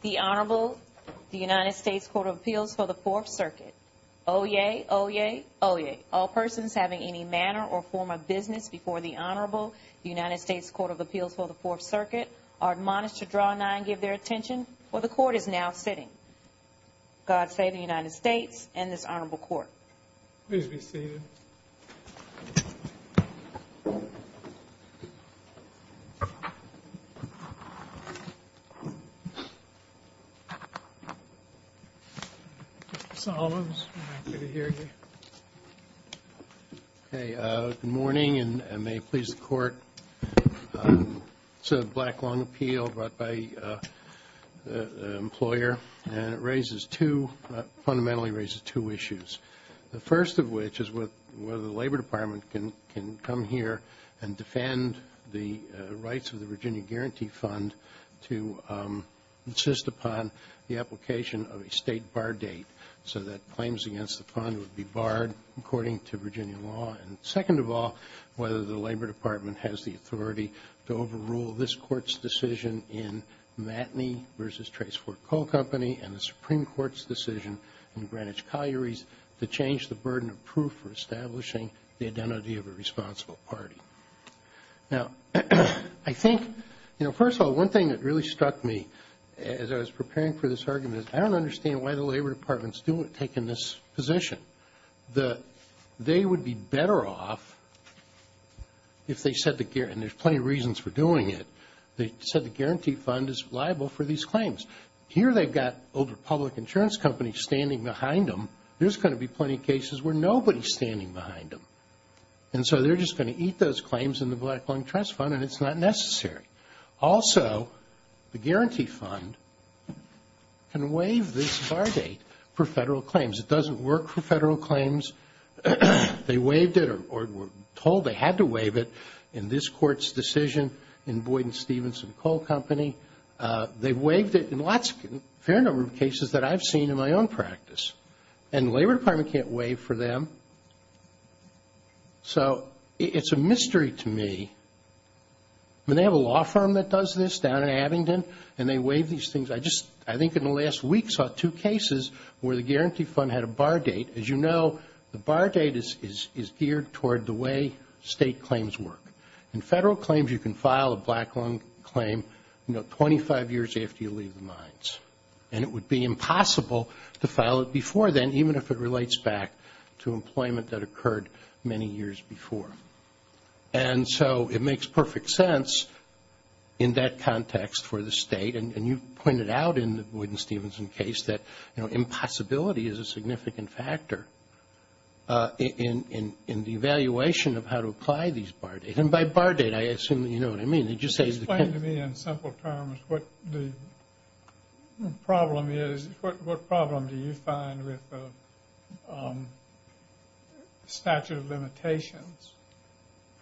The Honorable The United States Court of Appeals for the Fourth Circuit. Oyez, oyez, oyez. All persons having any manner or form of business before the Honorable United States Court of Appeals for the Fourth Circuit are admonished to draw nigh and give their attention, for the Court is now sitting. God save the United States and this Honorable Court. Please be seated. Mr. Solomons, we're happy to hear you. Okay. Good morning and may it please the Court. This is a black long appeal brought by an employer and it raises two, fundamentally raises two issues. The first of which is whether the Labor Department can come here and defend the rights of the Virginia Guarantee Fund to insist upon the application of a State Bar Date so that claims against the fund would be barred according to Virginia law. Second of all, whether the Labor Department has the authority to overrule this Court's decision in Matney v. Tracefort Coal Company and the Supreme Court's decision in Greenwich Collieries to change the burden of proof for establishing the identity of a responsible party. Now, I think, you know, first of all, one thing that really struck me as I was preparing for this argument is I don't understand why the Labor Department is taking this position. They would be better off if they said, and there's plenty of reasons for doing it, they said the Guarantee Fund is liable for these claims. Here they've got older public insurance companies standing behind them. There's going to be plenty of cases where nobody's standing behind them and so they're just going to eat those claims in the Black Long Trust Fund and it's not necessary. Also, the Guarantee Fund can waive this bar date for Federal claims. It doesn't work for Federal claims. They waived it or were told they had to waive it in this Court's decision in Boyd v. Stephenson Coal Company. They waived it in a fair number of cases that I've seen in my own practice and the Labor Department can't waive for them. So, it's a mystery to me. I mean, they have a law firm that does this down in Abingdon and they waive these things. I just, I think in the last week saw two cases where the Guarantee Fund had a bar date. As you know, the bar date is geared toward the way State claims work. In Federal claims, you can file a Black Long claim, you know, 25 years after you leave the mines and it would be impossible to file it before then even if it relates back to employment that occurred many years before. And so, it makes perfect sense in that context for the State and you pointed out in the Boyd v. Stephenson case that, you know, impossibility is a significant factor in the evaluation of how to apply these bar dates. And by bar date, I assume that you know what I mean. It just says the claim. So, just explain to me in simple terms what the problem is, what problem do you find with the statute of limitations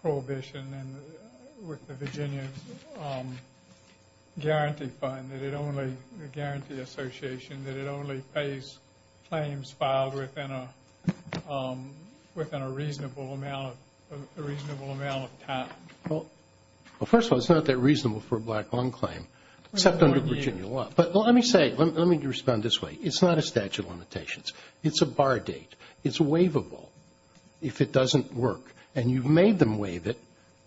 prohibition and with the Virginia Guarantee Fund that it only, the Guarantee Association, that it only pays claims filed within a reasonable amount of time? Well, first of all, it's not that reasonable for a Black Long claim except under Virginia law. But let me say, let me respond this way. It's not a statute of limitations. It's a bar date. It's waivable if it doesn't work and you've made them waive it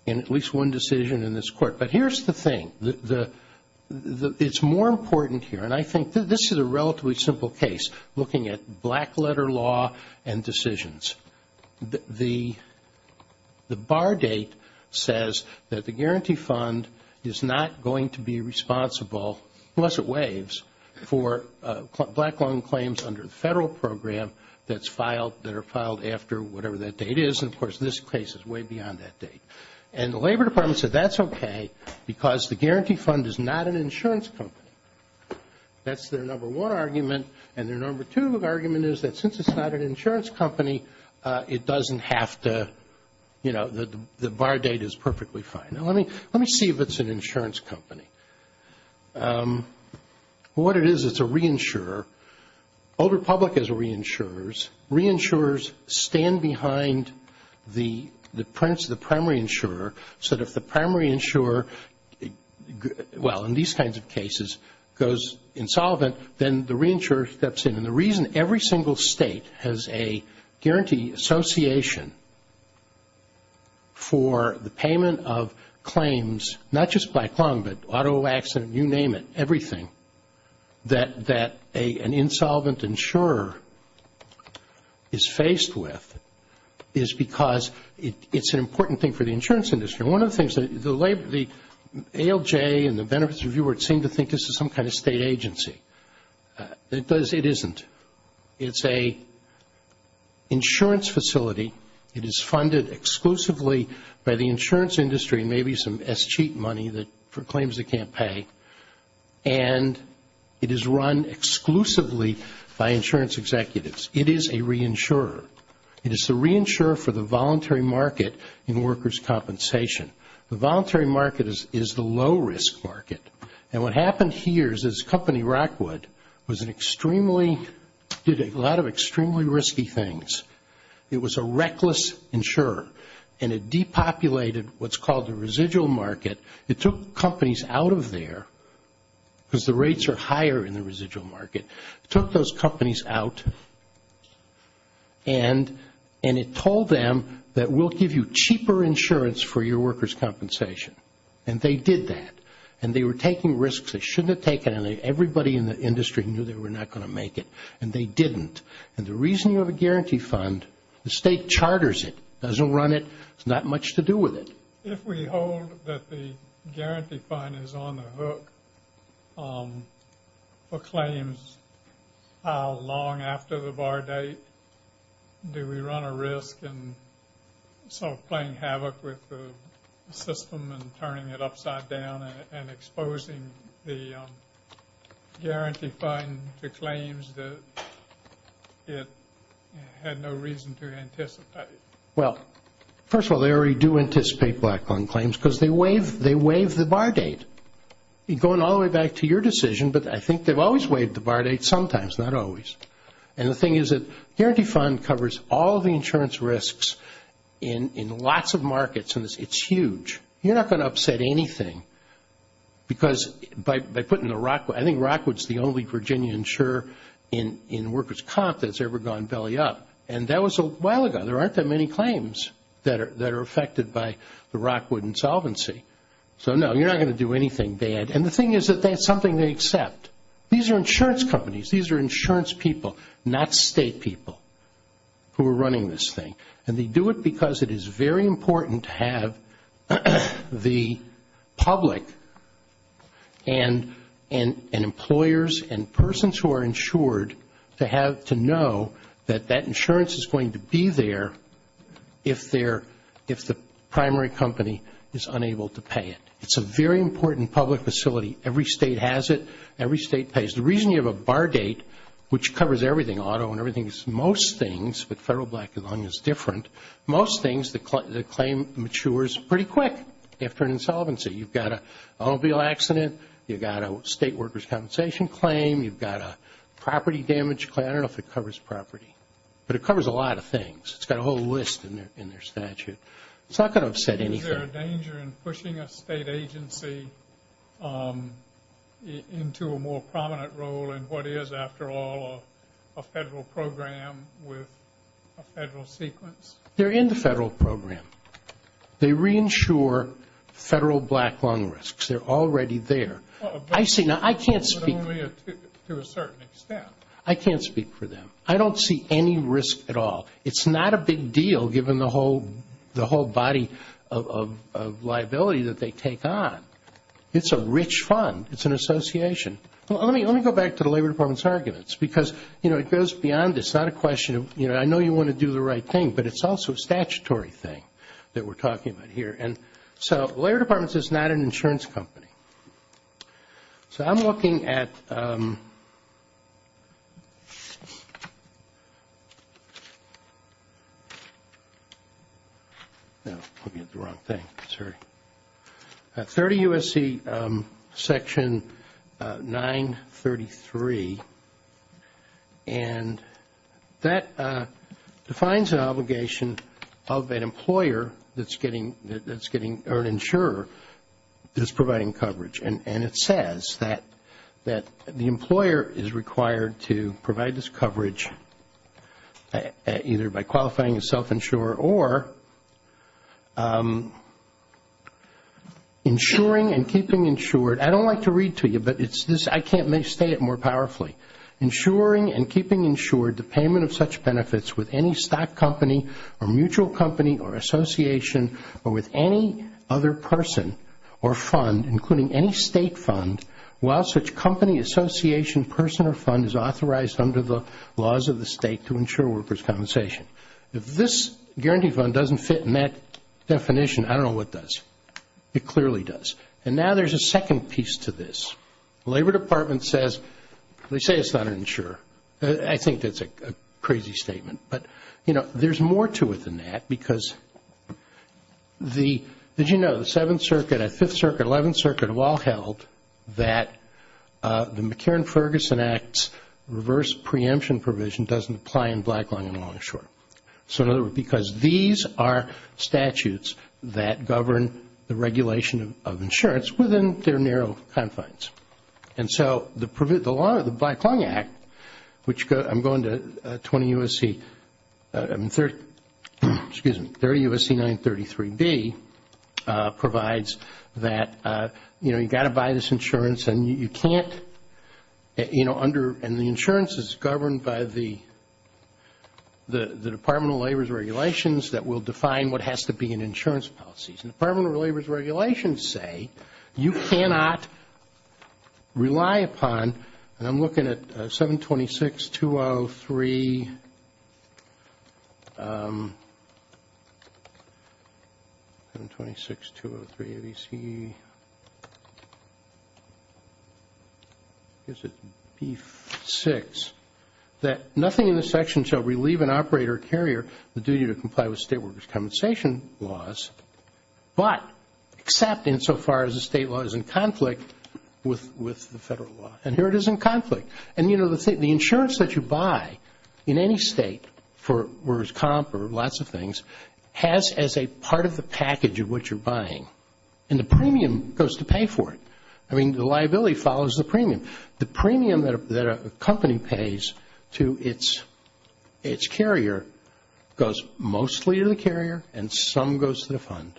in at least one decision in this Court. But here's the thing. It's more important here and I think this is a relatively simple case looking at black letter law and decisions. The bar date says that the Guarantee Fund is not going to be responsible, unless it waives, for Black Long claims under the federal program that's filed, that are filed after whatever that date is. And of course, this case is way beyond that date. And the Labor Department said that's okay because the Guarantee Fund is not an insurance company. That's their number one argument. And their number two argument is that since it's not an insurance company, it doesn't have to, you know, the bar date is perfectly fine. Now, let me see if it's an insurance company. What it is, it's a reinsurer. Old Republic has reinsurers. Reinsurers stand behind the primary insurer so that if the primary insurer, well, in these kinds of cases, goes insolvent, then the reinsurer steps in. And the reason every single state has a guarantee association for the payment of claims, not just Black Long, but auto accident, you name it, everything, that an insolvent insurer is faced with is because it's an important thing for the insurance industry. And one of the things, the ALJ and the Benefits Review seem to think this is some kind of state agency. It isn't. It's an insurance facility. It is funded exclusively by the insurance industry and maybe some escheat money for claims they can't pay. And it is run exclusively by insurance executives. It is a reinsurer. It is the reinsurer for the voluntary market in workers' compensation. The voluntary market is the low-risk market. And what happened here is this company, Rockwood, was an extremely, did a lot of extremely risky things. It was a reckless insurer. And it depopulated what's called the residual market. It took companies out of there because the rates are higher in the residual market. It took those companies out. And it told them that we'll give you cheaper insurance for your workers' compensation. And they did that. And they were taking risks they shouldn't have taken. And everybody in the industry knew they were not going to make it. And they didn't. And the reason you have a guarantee fund, the state charters it, doesn't run it. It's not much to do with it. If we hold that the guarantee fund is on the hook for claims, how long after the bar date do we run a risk in sort of playing havoc with the system and turning it upside down and exposing the guarantee fund to claims that it had no reason to anticipate? Well, first of all, they already do anticipate black lung claims because they waive the bar date. Going all the way back to your decision, but I think they've always waived the bar date sometimes, not always. And the thing is that guarantee fund covers all the insurance risks in lots of markets and it's huge. You're not going to upset anything because by putting the Rockwood, I think Rockwood's the only Virginia insurer in workers' comp that's ever gone belly up. And that was a while ago. There aren't that many claims that are affected by the Rockwood insolvency. So, no, you're not going to do anything bad. And the thing is that that's something they accept. These are insurance companies. These are insurance people, not state people who are running this thing. And they do it because it is very important to have the public and employers and persons who are insured to have to know that that insurance is going to be there if the primary company is unable to pay it. It's a very important public facility. Every state has it. Every state pays. The reason you have a bar date, which covers everything, auto and everything, is most things, but federal black lung is different, most things the claim matures pretty quick after an insolvency. You've got an automobile accident. You've got a state workers' compensation claim. You've got a property damage claim. I don't know if it covers property. But it covers a lot of things. It's got a whole list in their statute. It's not going to upset anything. Is there a danger in pushing a state agency into a more prominent role in what is, after all, a federal program with a federal sequence? They're in the federal program. They reinsure federal black lung risks. They're already there. I see. Now, I can't speak. To a certain extent. I can't speak for them. I don't see any risk at all. It's not a big deal given the whole body of liability that they take on. It's a rich fund. It's an association. Let me go back to the Labor Department's arguments because, you know, it goes beyond this. It's not a question of, you know, I know you want to do the right thing, but it's also a statutory thing that we're talking about here. And so Labor Department is not an insurance company. So I'm looking at 30 U.S.C. Section 933, and that defines an obligation of an employer that's getting or an insurer that's providing coverage. And it says that the employer is required to provide this coverage either by qualifying a self-insurer or insuring and keeping insured. I don't like to read to you, but it's this. I can't state it more powerfully. Insuring and keeping insured the payment of such benefits with any stock company or mutual company or association or with any other person or fund, including any state fund, while such company, association, person, or fund is authorized under the laws of the state to insure workers' compensation. If this guarantee fund doesn't fit in that definition, I don't know what does. It clearly does. And now there's a second piece to this. Labor Department says, they say it's not an insurer. I think that's a crazy statement. But, you know, there's more to it than that because the, did you know, the Seventh Circuit, Fifth Circuit, Eleventh Circuit all held that the McCarran-Ferguson Act's reverse preemption provision doesn't apply in Black, Long, and Longshore. So in other words, because these are statutes that govern the regulation of And so the Black, Long Act, which I'm going to 20 U.S.C., excuse me, 30 U.S.C. 933B provides that, you know, you've got to buy this insurance and you can't, you know, and the insurance is governed by the Department of Labor's regulations that will define what has to be in insurance policies. And the Department of Labor's regulations say you cannot rely upon, and I'm looking at 726.203, 726.203ABC, I guess it's B6, that nothing in this section shall relieve an operator or carrier the duty to comply with state workers' compensation laws, but except insofar as the state law is in conflict with the federal law. And here it is in conflict. And, you know, the insurance that you buy in any state for, where it's comp or lots of things, has as a part of the package of what you're buying, and the premium goes to pay for it. I mean, the liability follows the premium. The premium that a company pays to its carrier goes mostly to the carrier and some goes to the fund.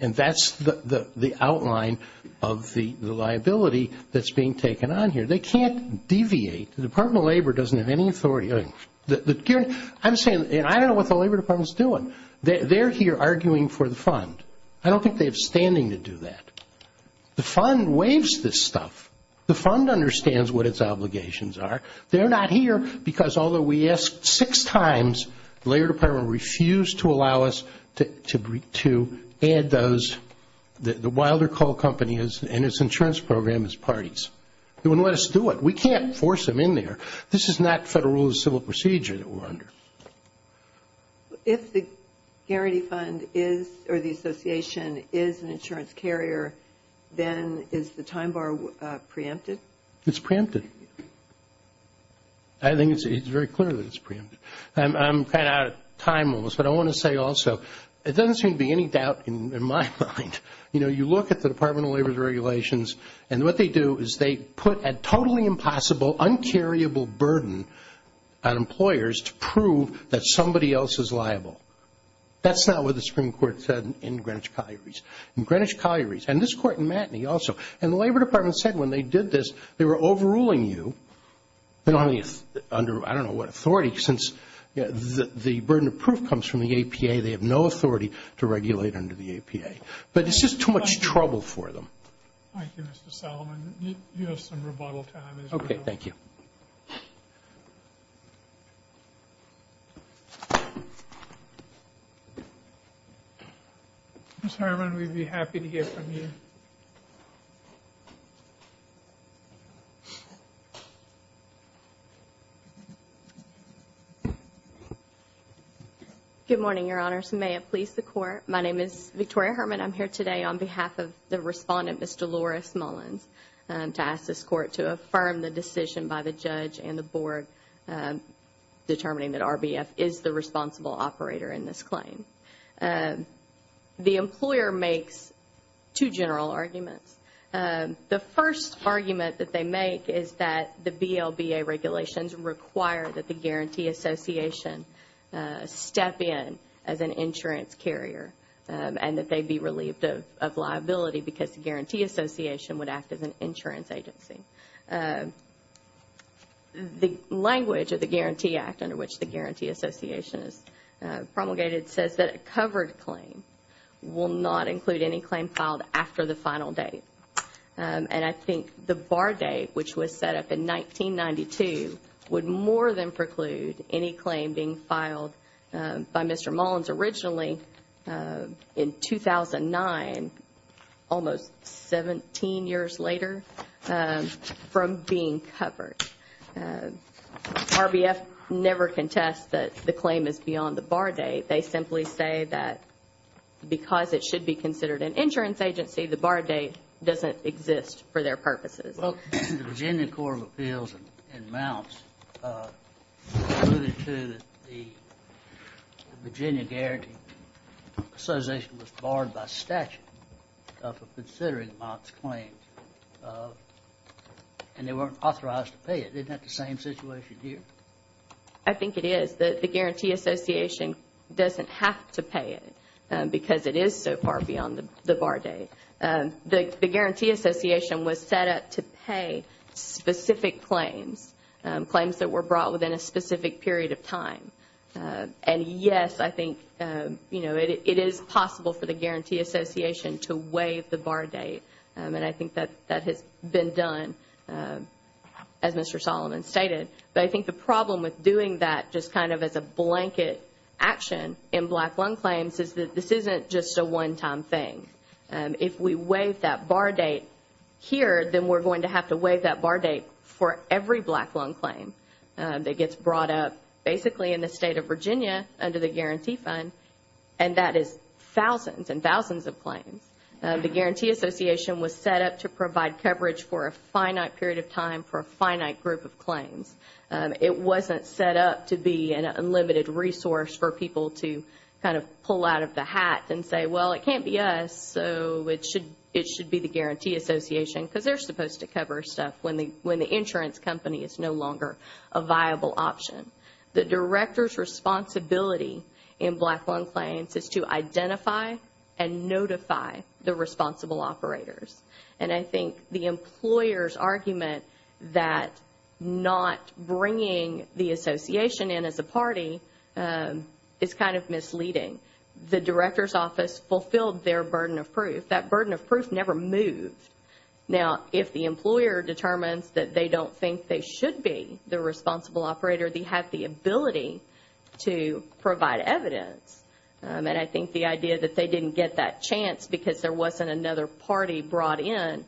And that's the outline of the liability that's being taken on here. They can't deviate. The Department of Labor doesn't have any authority. I'm saying, and I don't know what the Labor Department's doing. They're here arguing for the fund. I don't think they have standing to do that. The fund waives this stuff. The fund understands what its obligations are. They're not here because, although we asked six times, the Labor Department refused to allow us to add those. The Wilder Coal Company and its insurance program is parties. They wouldn't let us do it. We can't force them in there. This is not federal rule of civil procedure that we're under. If the guarantee fund is, or the association is an insurance carrier, then is the time bar preempted? It's preempted. I think it's very clear that it's preempted. I'm kind of out of time almost, but I want to say also, it doesn't seem to be any doubt in my mind. You know, you look at the Department of Labor's regulations, and what they do is they put a totally impossible, un-carryable burden on employers to prove that somebody else is liable. That's not what the Supreme Court said in Greenwich Collieries. In Greenwich Collieries, and this Court in Matinee also, and the Labor Department said when they did this, they were overruling you. They're only under, I don't know what authority, since the burden of proof comes from the APA. They have no authority to regulate under the APA. But it's just too much trouble for them. Thank you, Mr. Solomon. You have some rebuttal time as well. Okay, thank you. Ms. Herman, we'd be happy to hear from you. Good morning, Your Honors. May it please the Court. My name is Victoria Herman. I'm here today on behalf of the respondent, Ms. Dolores Mullins, to ask this Court to affirm the decision by the judge and the board determining that RBF is the responsible operator in this claim. The employer makes two general arguments. The first argument that they make is that the BLBA regulations require that the liability because the Guarantee Association would act as an insurance agency. The language of the Guarantee Act, under which the Guarantee Association is promulgated, says that a covered claim will not include any claim filed after the final date. And I think the bar date, which was set up in 1992, would more than preclude any claim being filed by Mr. Mullins. It was originally in 2009, almost 17 years later, from being covered. RBF never contests that the claim is beyond the bar date. They simply say that because it should be considered an insurance agency, the bar date doesn't exist for their purposes. Well, the Virginia Court of Appeals in Mounts alluded to the Virginia Guarantee Association was barred by statute for considering Mounts claims, and they weren't authorized to pay it. Isn't that the same situation here? I think it is. The Guarantee Association doesn't have to pay it because it is so far beyond the bar date. The Guarantee Association was set up to pay specific claims, claims that were brought within a specific period of time. And yes, I think it is possible for the Guarantee Association to waive the bar date. And I think that has been done, as Mr. Solomon stated. But I think the problem with doing that just kind of as a blanket action in black loan claims is that this isn't just a one-time thing. If we waive that bar date here, then we're going to have to waive that bar date for every black loan claim that gets brought up basically in the state of Virginia under the Guarantee Fund, and that is thousands and thousands of claims. The Guarantee Association was set up to provide coverage for a finite period of time for a finite group of claims. It wasn't set up to be an unlimited resource for people to kind of pull out of the hat and say, well, it can't be us, so it should be the Guarantee Association, because they're supposed to cover stuff when the insurance company is no longer a viable option. The director's responsibility in black loan claims is to identify and notify the responsible operators. And I think the employer's argument that not bringing the association in as a party is kind of misleading. The director's office fulfilled their burden of proof. That burden of proof never moved. Now, if the employer determines that they don't think they should be the responsible operator, they have the ability to provide evidence. And I think the idea that they didn't get that chance because there wasn't another party brought in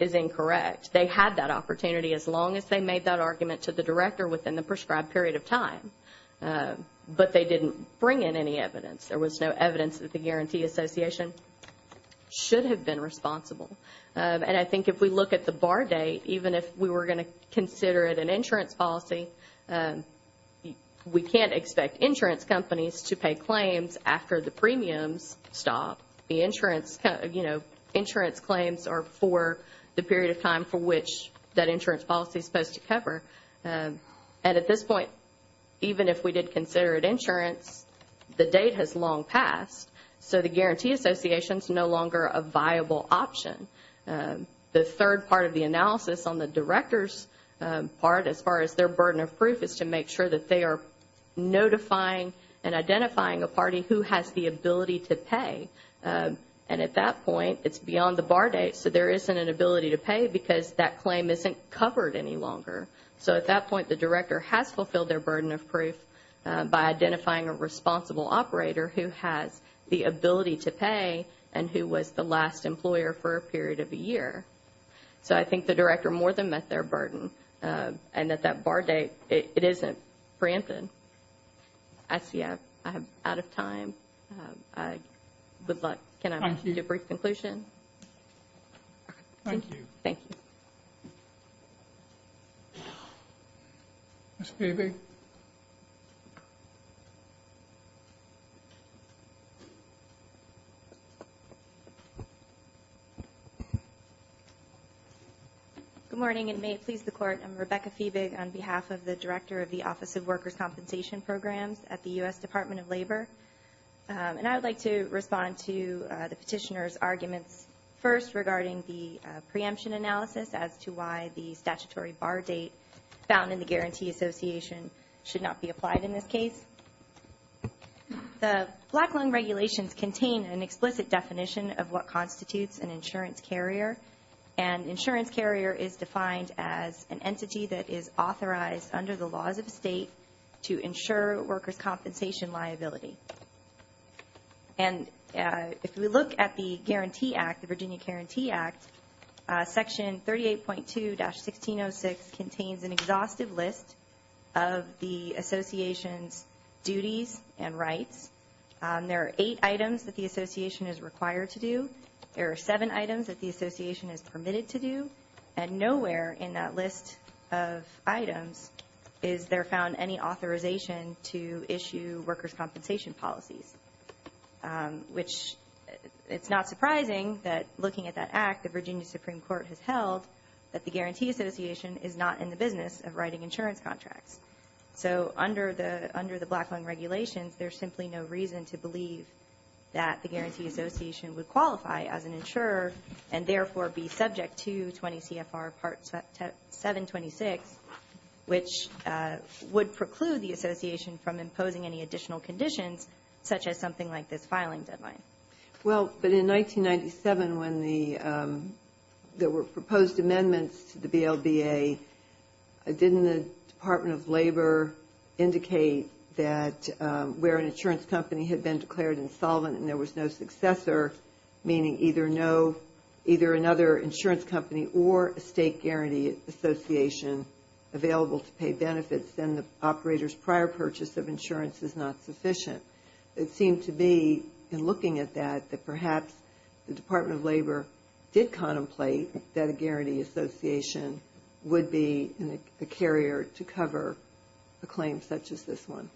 is incorrect. They had that opportunity as long as they made that argument to the director within the prescribed period of time. But they didn't bring in any evidence. There was no evidence that the Guarantee Association should have been responsible. And I think if we look at the bar date, even if we were going to consider it an insurance policy, we can't expect insurance companies to pay claims after the premiums stop. The insurance claims are for the period of time for which that insurance policy is supposed to cover. And at this point, even if we did consider it insurance, the date has long passed, so the Guarantee Association is no longer a viable option. The third part of the analysis on the director's part, as far as their burden of proof, is to make sure that they are notifying and identifying a party who has the ability to pay. And at that point, it's beyond the bar date, so there isn't an ability to pay because that claim isn't covered any longer. So at that point, the director has fulfilled their burden of proof by identifying a responsible operator who has the ability to pay and who was the last employer for a period of a year. So I think the director more than met their burden and that that bar date, it isn't preempted. I see I'm out of time. Good luck. Can I make a brief conclusion? Thank you. Thank you. Ms. Fiebig. Good morning, and may it please the Court. I'm Rebecca Fiebig on behalf of the Director of the Office of Workers' Compensation Programs at the U.S. Department of Labor. And I would like to respond to the petitioner's arguments first regarding the preemption analysis as to why the statutory bar date found in the Guarantee Association should not be applied in this case. The Black Lung Regulations contain an explicit definition of what constitutes an insurance carrier, and insurance carrier is defined as an entity that is authorized under the laws of the state to ensure workers' compensation liability. And if we look at the Guarantee Act, the Virginia Guarantee Act, Section 38.2-1606 contains an exhaustive list of the association's duties and rights. There are eight items that the association is required to do. There are seven items that the association is permitted to do. And nowhere in that list of items is there found any authorization to issue workers' compensation policies, which it's not surprising that looking at that act, the Virginia Supreme Court has held that the Guarantee Association is not in the business of writing insurance contracts. So under the Black Lung Regulations, there's simply no reason to believe that the Guarantee Association would qualify as an insurer and therefore be subject to 20 CFR Part 726, which would preclude the association from imposing any additional conditions, such as something like this filing deadline. Well, but in 1997, when there were proposed amendments to the BLBA, didn't the Department of Labor indicate that where an insurance company had been declared insolvent and there was no successor, meaning either another insurance company or a state Guarantee Association available to pay benefits, then the operator's prior purchase of insurance is not sufficient? It seemed to be, in looking at that, that perhaps the Department of Labor did contemplate that a Guarantee Association would be a carrier to cover a claim such as this one.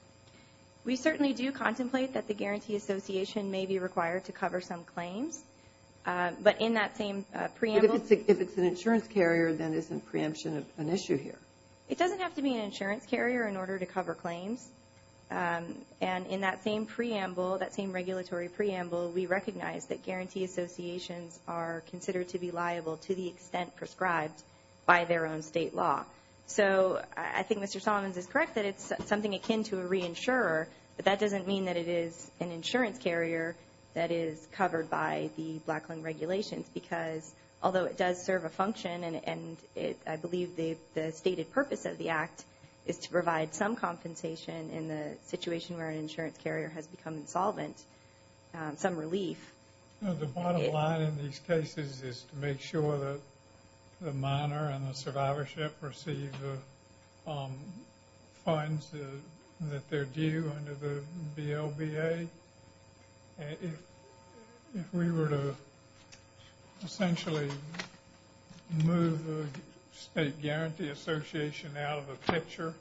We certainly do contemplate that the Guarantee Association may be required to cover some claims. But in that same preamble – But if it's an insurance carrier, then isn't preemption an issue here? It doesn't have to be an insurance carrier in order to cover claims. And in that same preamble, that same regulatory preamble, we recognize that Guarantee Associations are considered to be liable to the extent prescribed by their own state law. So I think Mr. Solomons is correct that it's something akin to a reinsurer, but that doesn't mean that it is an insurance carrier that is covered by the Black Lung Regulations because although it does serve a function, and I believe the stated purpose of the Act is to provide some compensation in the situation where an insurance carrier has become insolvent, some relief. The bottom line in these cases is to make sure that the minor and the survivorship receive the funds that they're due under the BLBA. If we were to essentially move the State Guarantee Association out of the picture,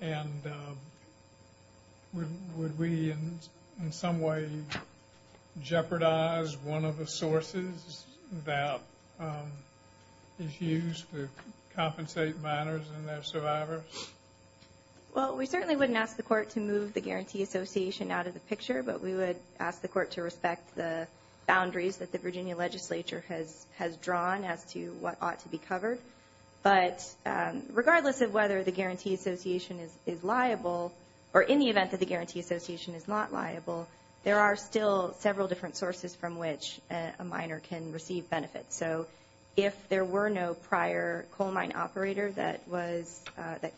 and would we in some way jeopardize one of the sources that is used to compensate minors and their survivors? Well, we certainly wouldn't ask the Court to move the Guarantee Association out of the picture, but we would ask the Court to respect the boundaries that the Virginia Legislature has drawn as to what ought to be covered. But regardless of whether the Guarantee Association is liable, or in the event that the Guarantee Association is not liable, there are still several different sources from which a minor can receive benefits. So if there were no prior coal mine operator that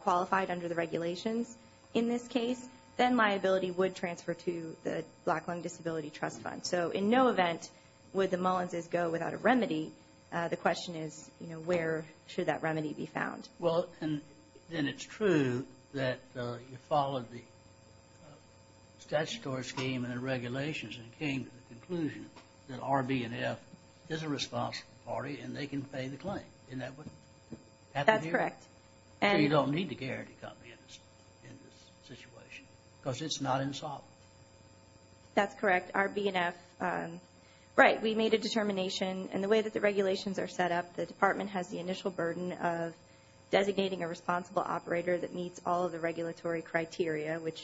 qualified under the regulations in this case, then liability would transfer to the Black Lung Disability Trust Fund. So in no event would the Mullins' go without a remedy. The question is, where should that remedy be found? Well, then it's true that you followed the statutory scheme and the regulations and came to the conclusion that R, B, and F is a responsible party, and they can pay the claim. Isn't that what happened here? That's correct. So you don't need the Guarantee Company in this situation, because it's not insolvent. That's correct. R, B, and F, right, we made a determination. And the way that the regulations are set up, the Department has the initial burden of designating a responsible operator that meets all of the regulatory criteria, which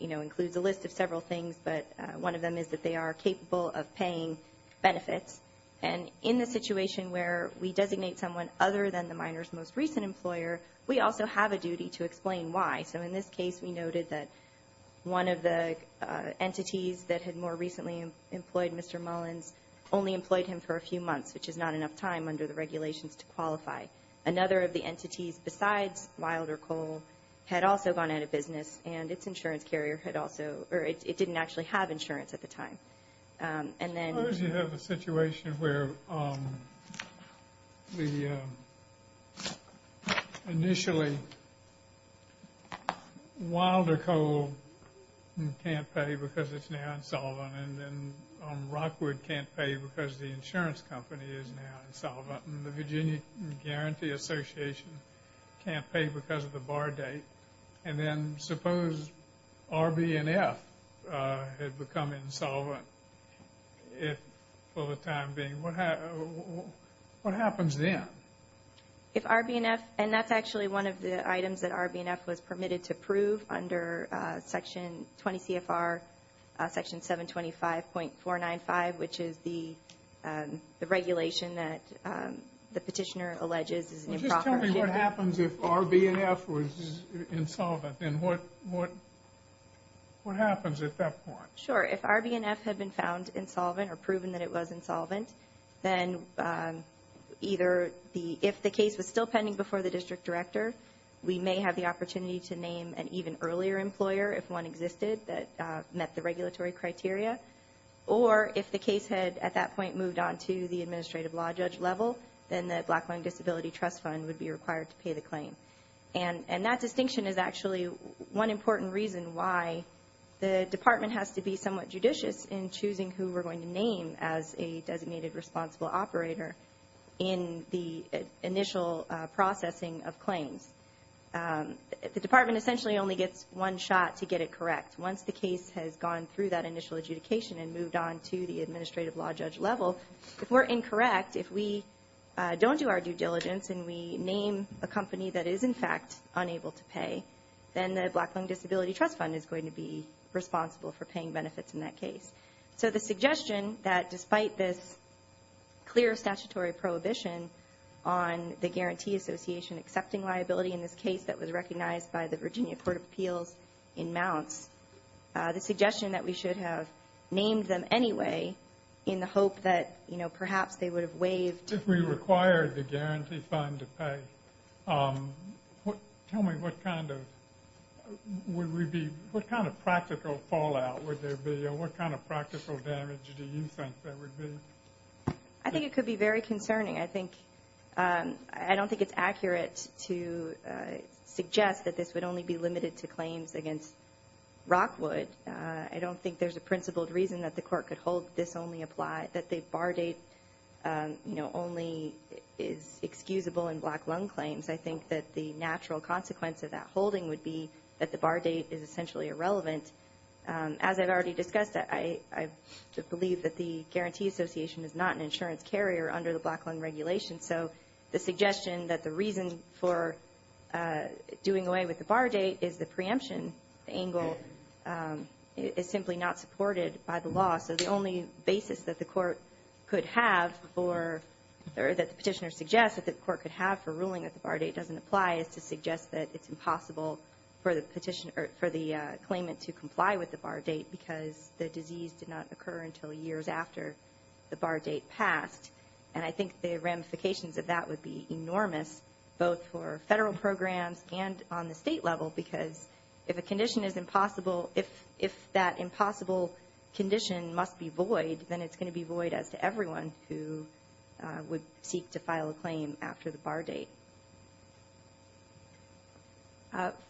includes a list of several things, but one of them is that they are capable of paying benefits. And in the situation where we designate someone other than the minor's most recent employer, we also have a duty to explain why. So in this case, we noted that one of the entities that had more recently employed Mr. Mullins only employed him for a few months, which is not enough time under the regulations to qualify. Another of the entities besides Wilder Coal had also gone out of business, and its insurance carrier had also or it didn't actually have insurance at the time. Suppose you have a situation where initially Wilder Coal can't pay because it's now insolvent, and then Rockwood can't pay because the insurance company is now insolvent, and the Virginia Guarantee Association can't pay because of the bar date. And then suppose R, B, and F had become insolvent for the time being. What happens then? If R, B, and F, and that's actually one of the items that R, B, and F was permitted to approve under Section 20 CFR, Section 725.495, which is the regulation that the petitioner alleges is an improper. Just tell me what happens if R, B, and F was insolvent, and what happens at that point? Sure. If R, B, and F had been found insolvent or proven that it was insolvent, then either if the case was still pending before the district director, we may have the opportunity to name an even earlier employer if one existed that met the regulatory criteria, or if the case had at that point moved on to the administrative law judge level, then the Black-Blind Disability Trust Fund would be required to pay the claim. And that distinction is actually one important reason why the department has to be somewhat judicious in choosing who we're going to name as a designated responsible operator in the initial processing of claims. The department essentially only gets one shot to get it correct. Once the case has gone through that initial adjudication and moved on to the administrative law judge level, if we're incorrect, if we don't do our due diligence and we name a company that is, in fact, unable to pay, then the Black-Blind Disability Trust Fund is going to be responsible for paying benefits in that case. So the suggestion that despite this clear statutory prohibition on the Guarantee Association accepting liability in this case that was recognized by the Virginia Court of Appeals in Mounts, the suggestion that we should have named them anyway in the hope that, you know, perhaps they would have waived. If we required the Guarantee Fund to pay, tell me what kind of practical fallout would there be or what kind of practical damage do you think there would be? I think it could be very concerning. I don't think it's accurate to suggest that this would only be limited to claims against Rockwood. I don't think there's a principled reason that the court could hold this only applies, that the bar date, you know, only is excusable in black lung claims. I think that the natural consequence of that holding would be that the bar date is essentially irrelevant. As I've already discussed, I believe that the Guarantee Association is not an insurance carrier under the black lung regulation. So the suggestion that the reason for doing away with the bar date is the preemption angle is simply not supported by the law. So the only basis that the court could have for or that the petitioner suggests that the court could have for ruling that the bar date doesn't apply is to suggest that it's impossible for the claimant to comply with the bar date because the disease did not occur until years after the bar date passed. And I think the ramifications of that would be enormous both for federal programs and on the state level because if a condition is impossible, if that impossible condition must be void, then it's going to be void as to everyone who would seek to file a claim after the bar date.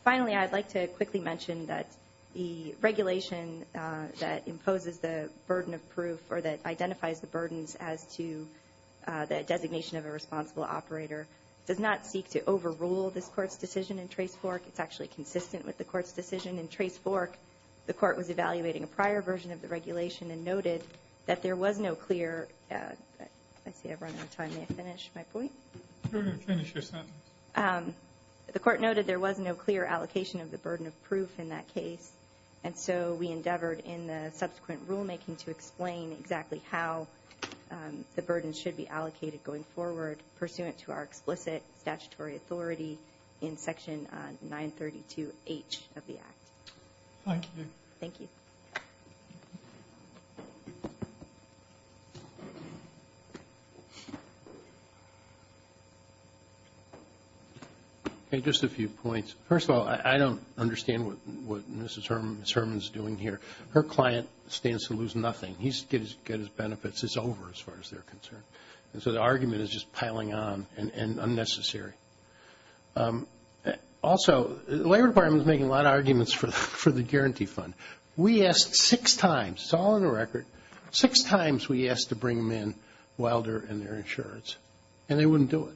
Finally, I'd like to quickly mention that the regulation that imposes the burden of proof or that identifies the burdens as to the designation of a responsible operator does not seek to overrule this court's decision in Trace Fork. It's actually consistent with the court's decision in Trace Fork. The court was evaluating a prior version of the regulation and noted that there was no clear I see I've run out of time, may I finish my point? Go ahead and finish your sentence. The court noted there was no clear allocation of the burden of proof in that case and so we endeavored in the subsequent rulemaking to explain exactly how the burden should be allocated going forward pursuant to our explicit statutory authority in Section 932H of the Act. Thank you. Thank you. Just a few points. First of all, I don't understand what Mrs. Herman is doing here. Her client stands to lose nothing. He gets his benefits. It's over as far as they're concerned. And so the argument is just piling on and unnecessary. Also, the Labor Department is making a lot of arguments for the guarantee fund. We asked six times. It's all in the record. Six times we asked to bring them in Wilder and their insurance, and they wouldn't do it.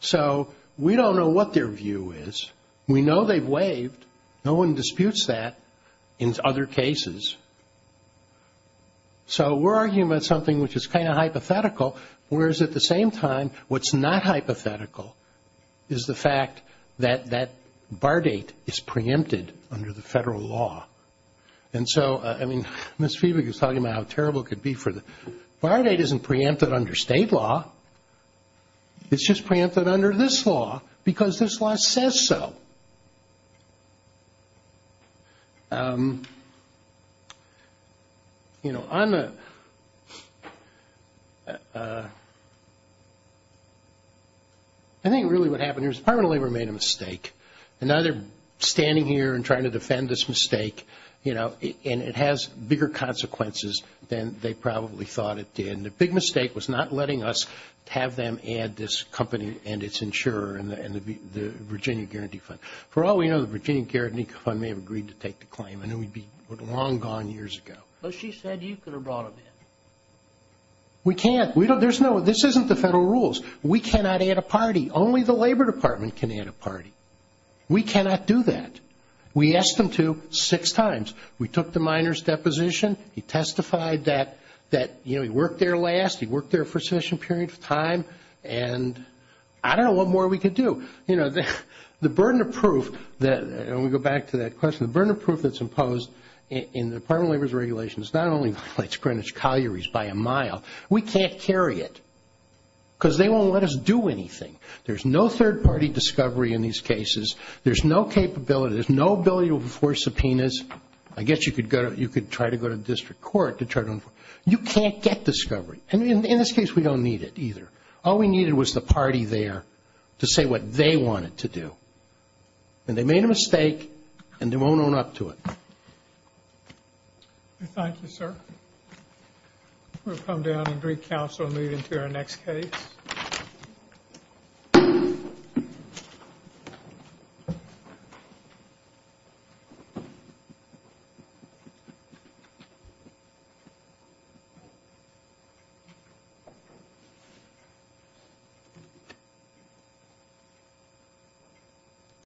So we don't know what their view is. We know they've waived. No one disputes that in other cases. So we're arguing about something which is kind of hypothetical, whereas at the same time what's not hypothetical is the fact that that bar date is preempted under the federal law. And so, I mean, Ms. Fiebig is talking about how terrible it could be. Bar date isn't preempted under state law. It's just preempted under this law because this law says so. I think really what happened here is the Department of Labor made a mistake. And now they're standing here and trying to defend this mistake, and it has bigger consequences than they probably thought it did. And the big mistake was not letting us have them add this company and its insurer and the Virginia Guarantee Fund. For all we know, the Virginia Guarantee Fund may have agreed to take the claim, and it would be long gone years ago. But she said you could have brought them in. We can't. This isn't the federal rules. We cannot add a party. Only the Labor Department can add a party. We cannot do that. We asked them to six times. We took the miner's deposition. He testified that he worked there last. He worked there for a sufficient period of time. And I don't know what more we could do. You know, the burden of proof, and we go back to that question, the burden of proof that's imposed in the Department of Labor's regulations not only violates Greenwich Colliery's by a mile, we can't carry it because they won't let us do anything. There's no third-party discovery in these cases. There's no capability. There's no ability to enforce subpoenas. I guess you could try to go to district court to try to enforce. You can't get discovery. And in this case, we don't need it either. All we needed was the party there to say what they wanted to do. And they made a mistake, and they won't own up to it. Thank you, sir. We'll come down and recouncil and move into our next case.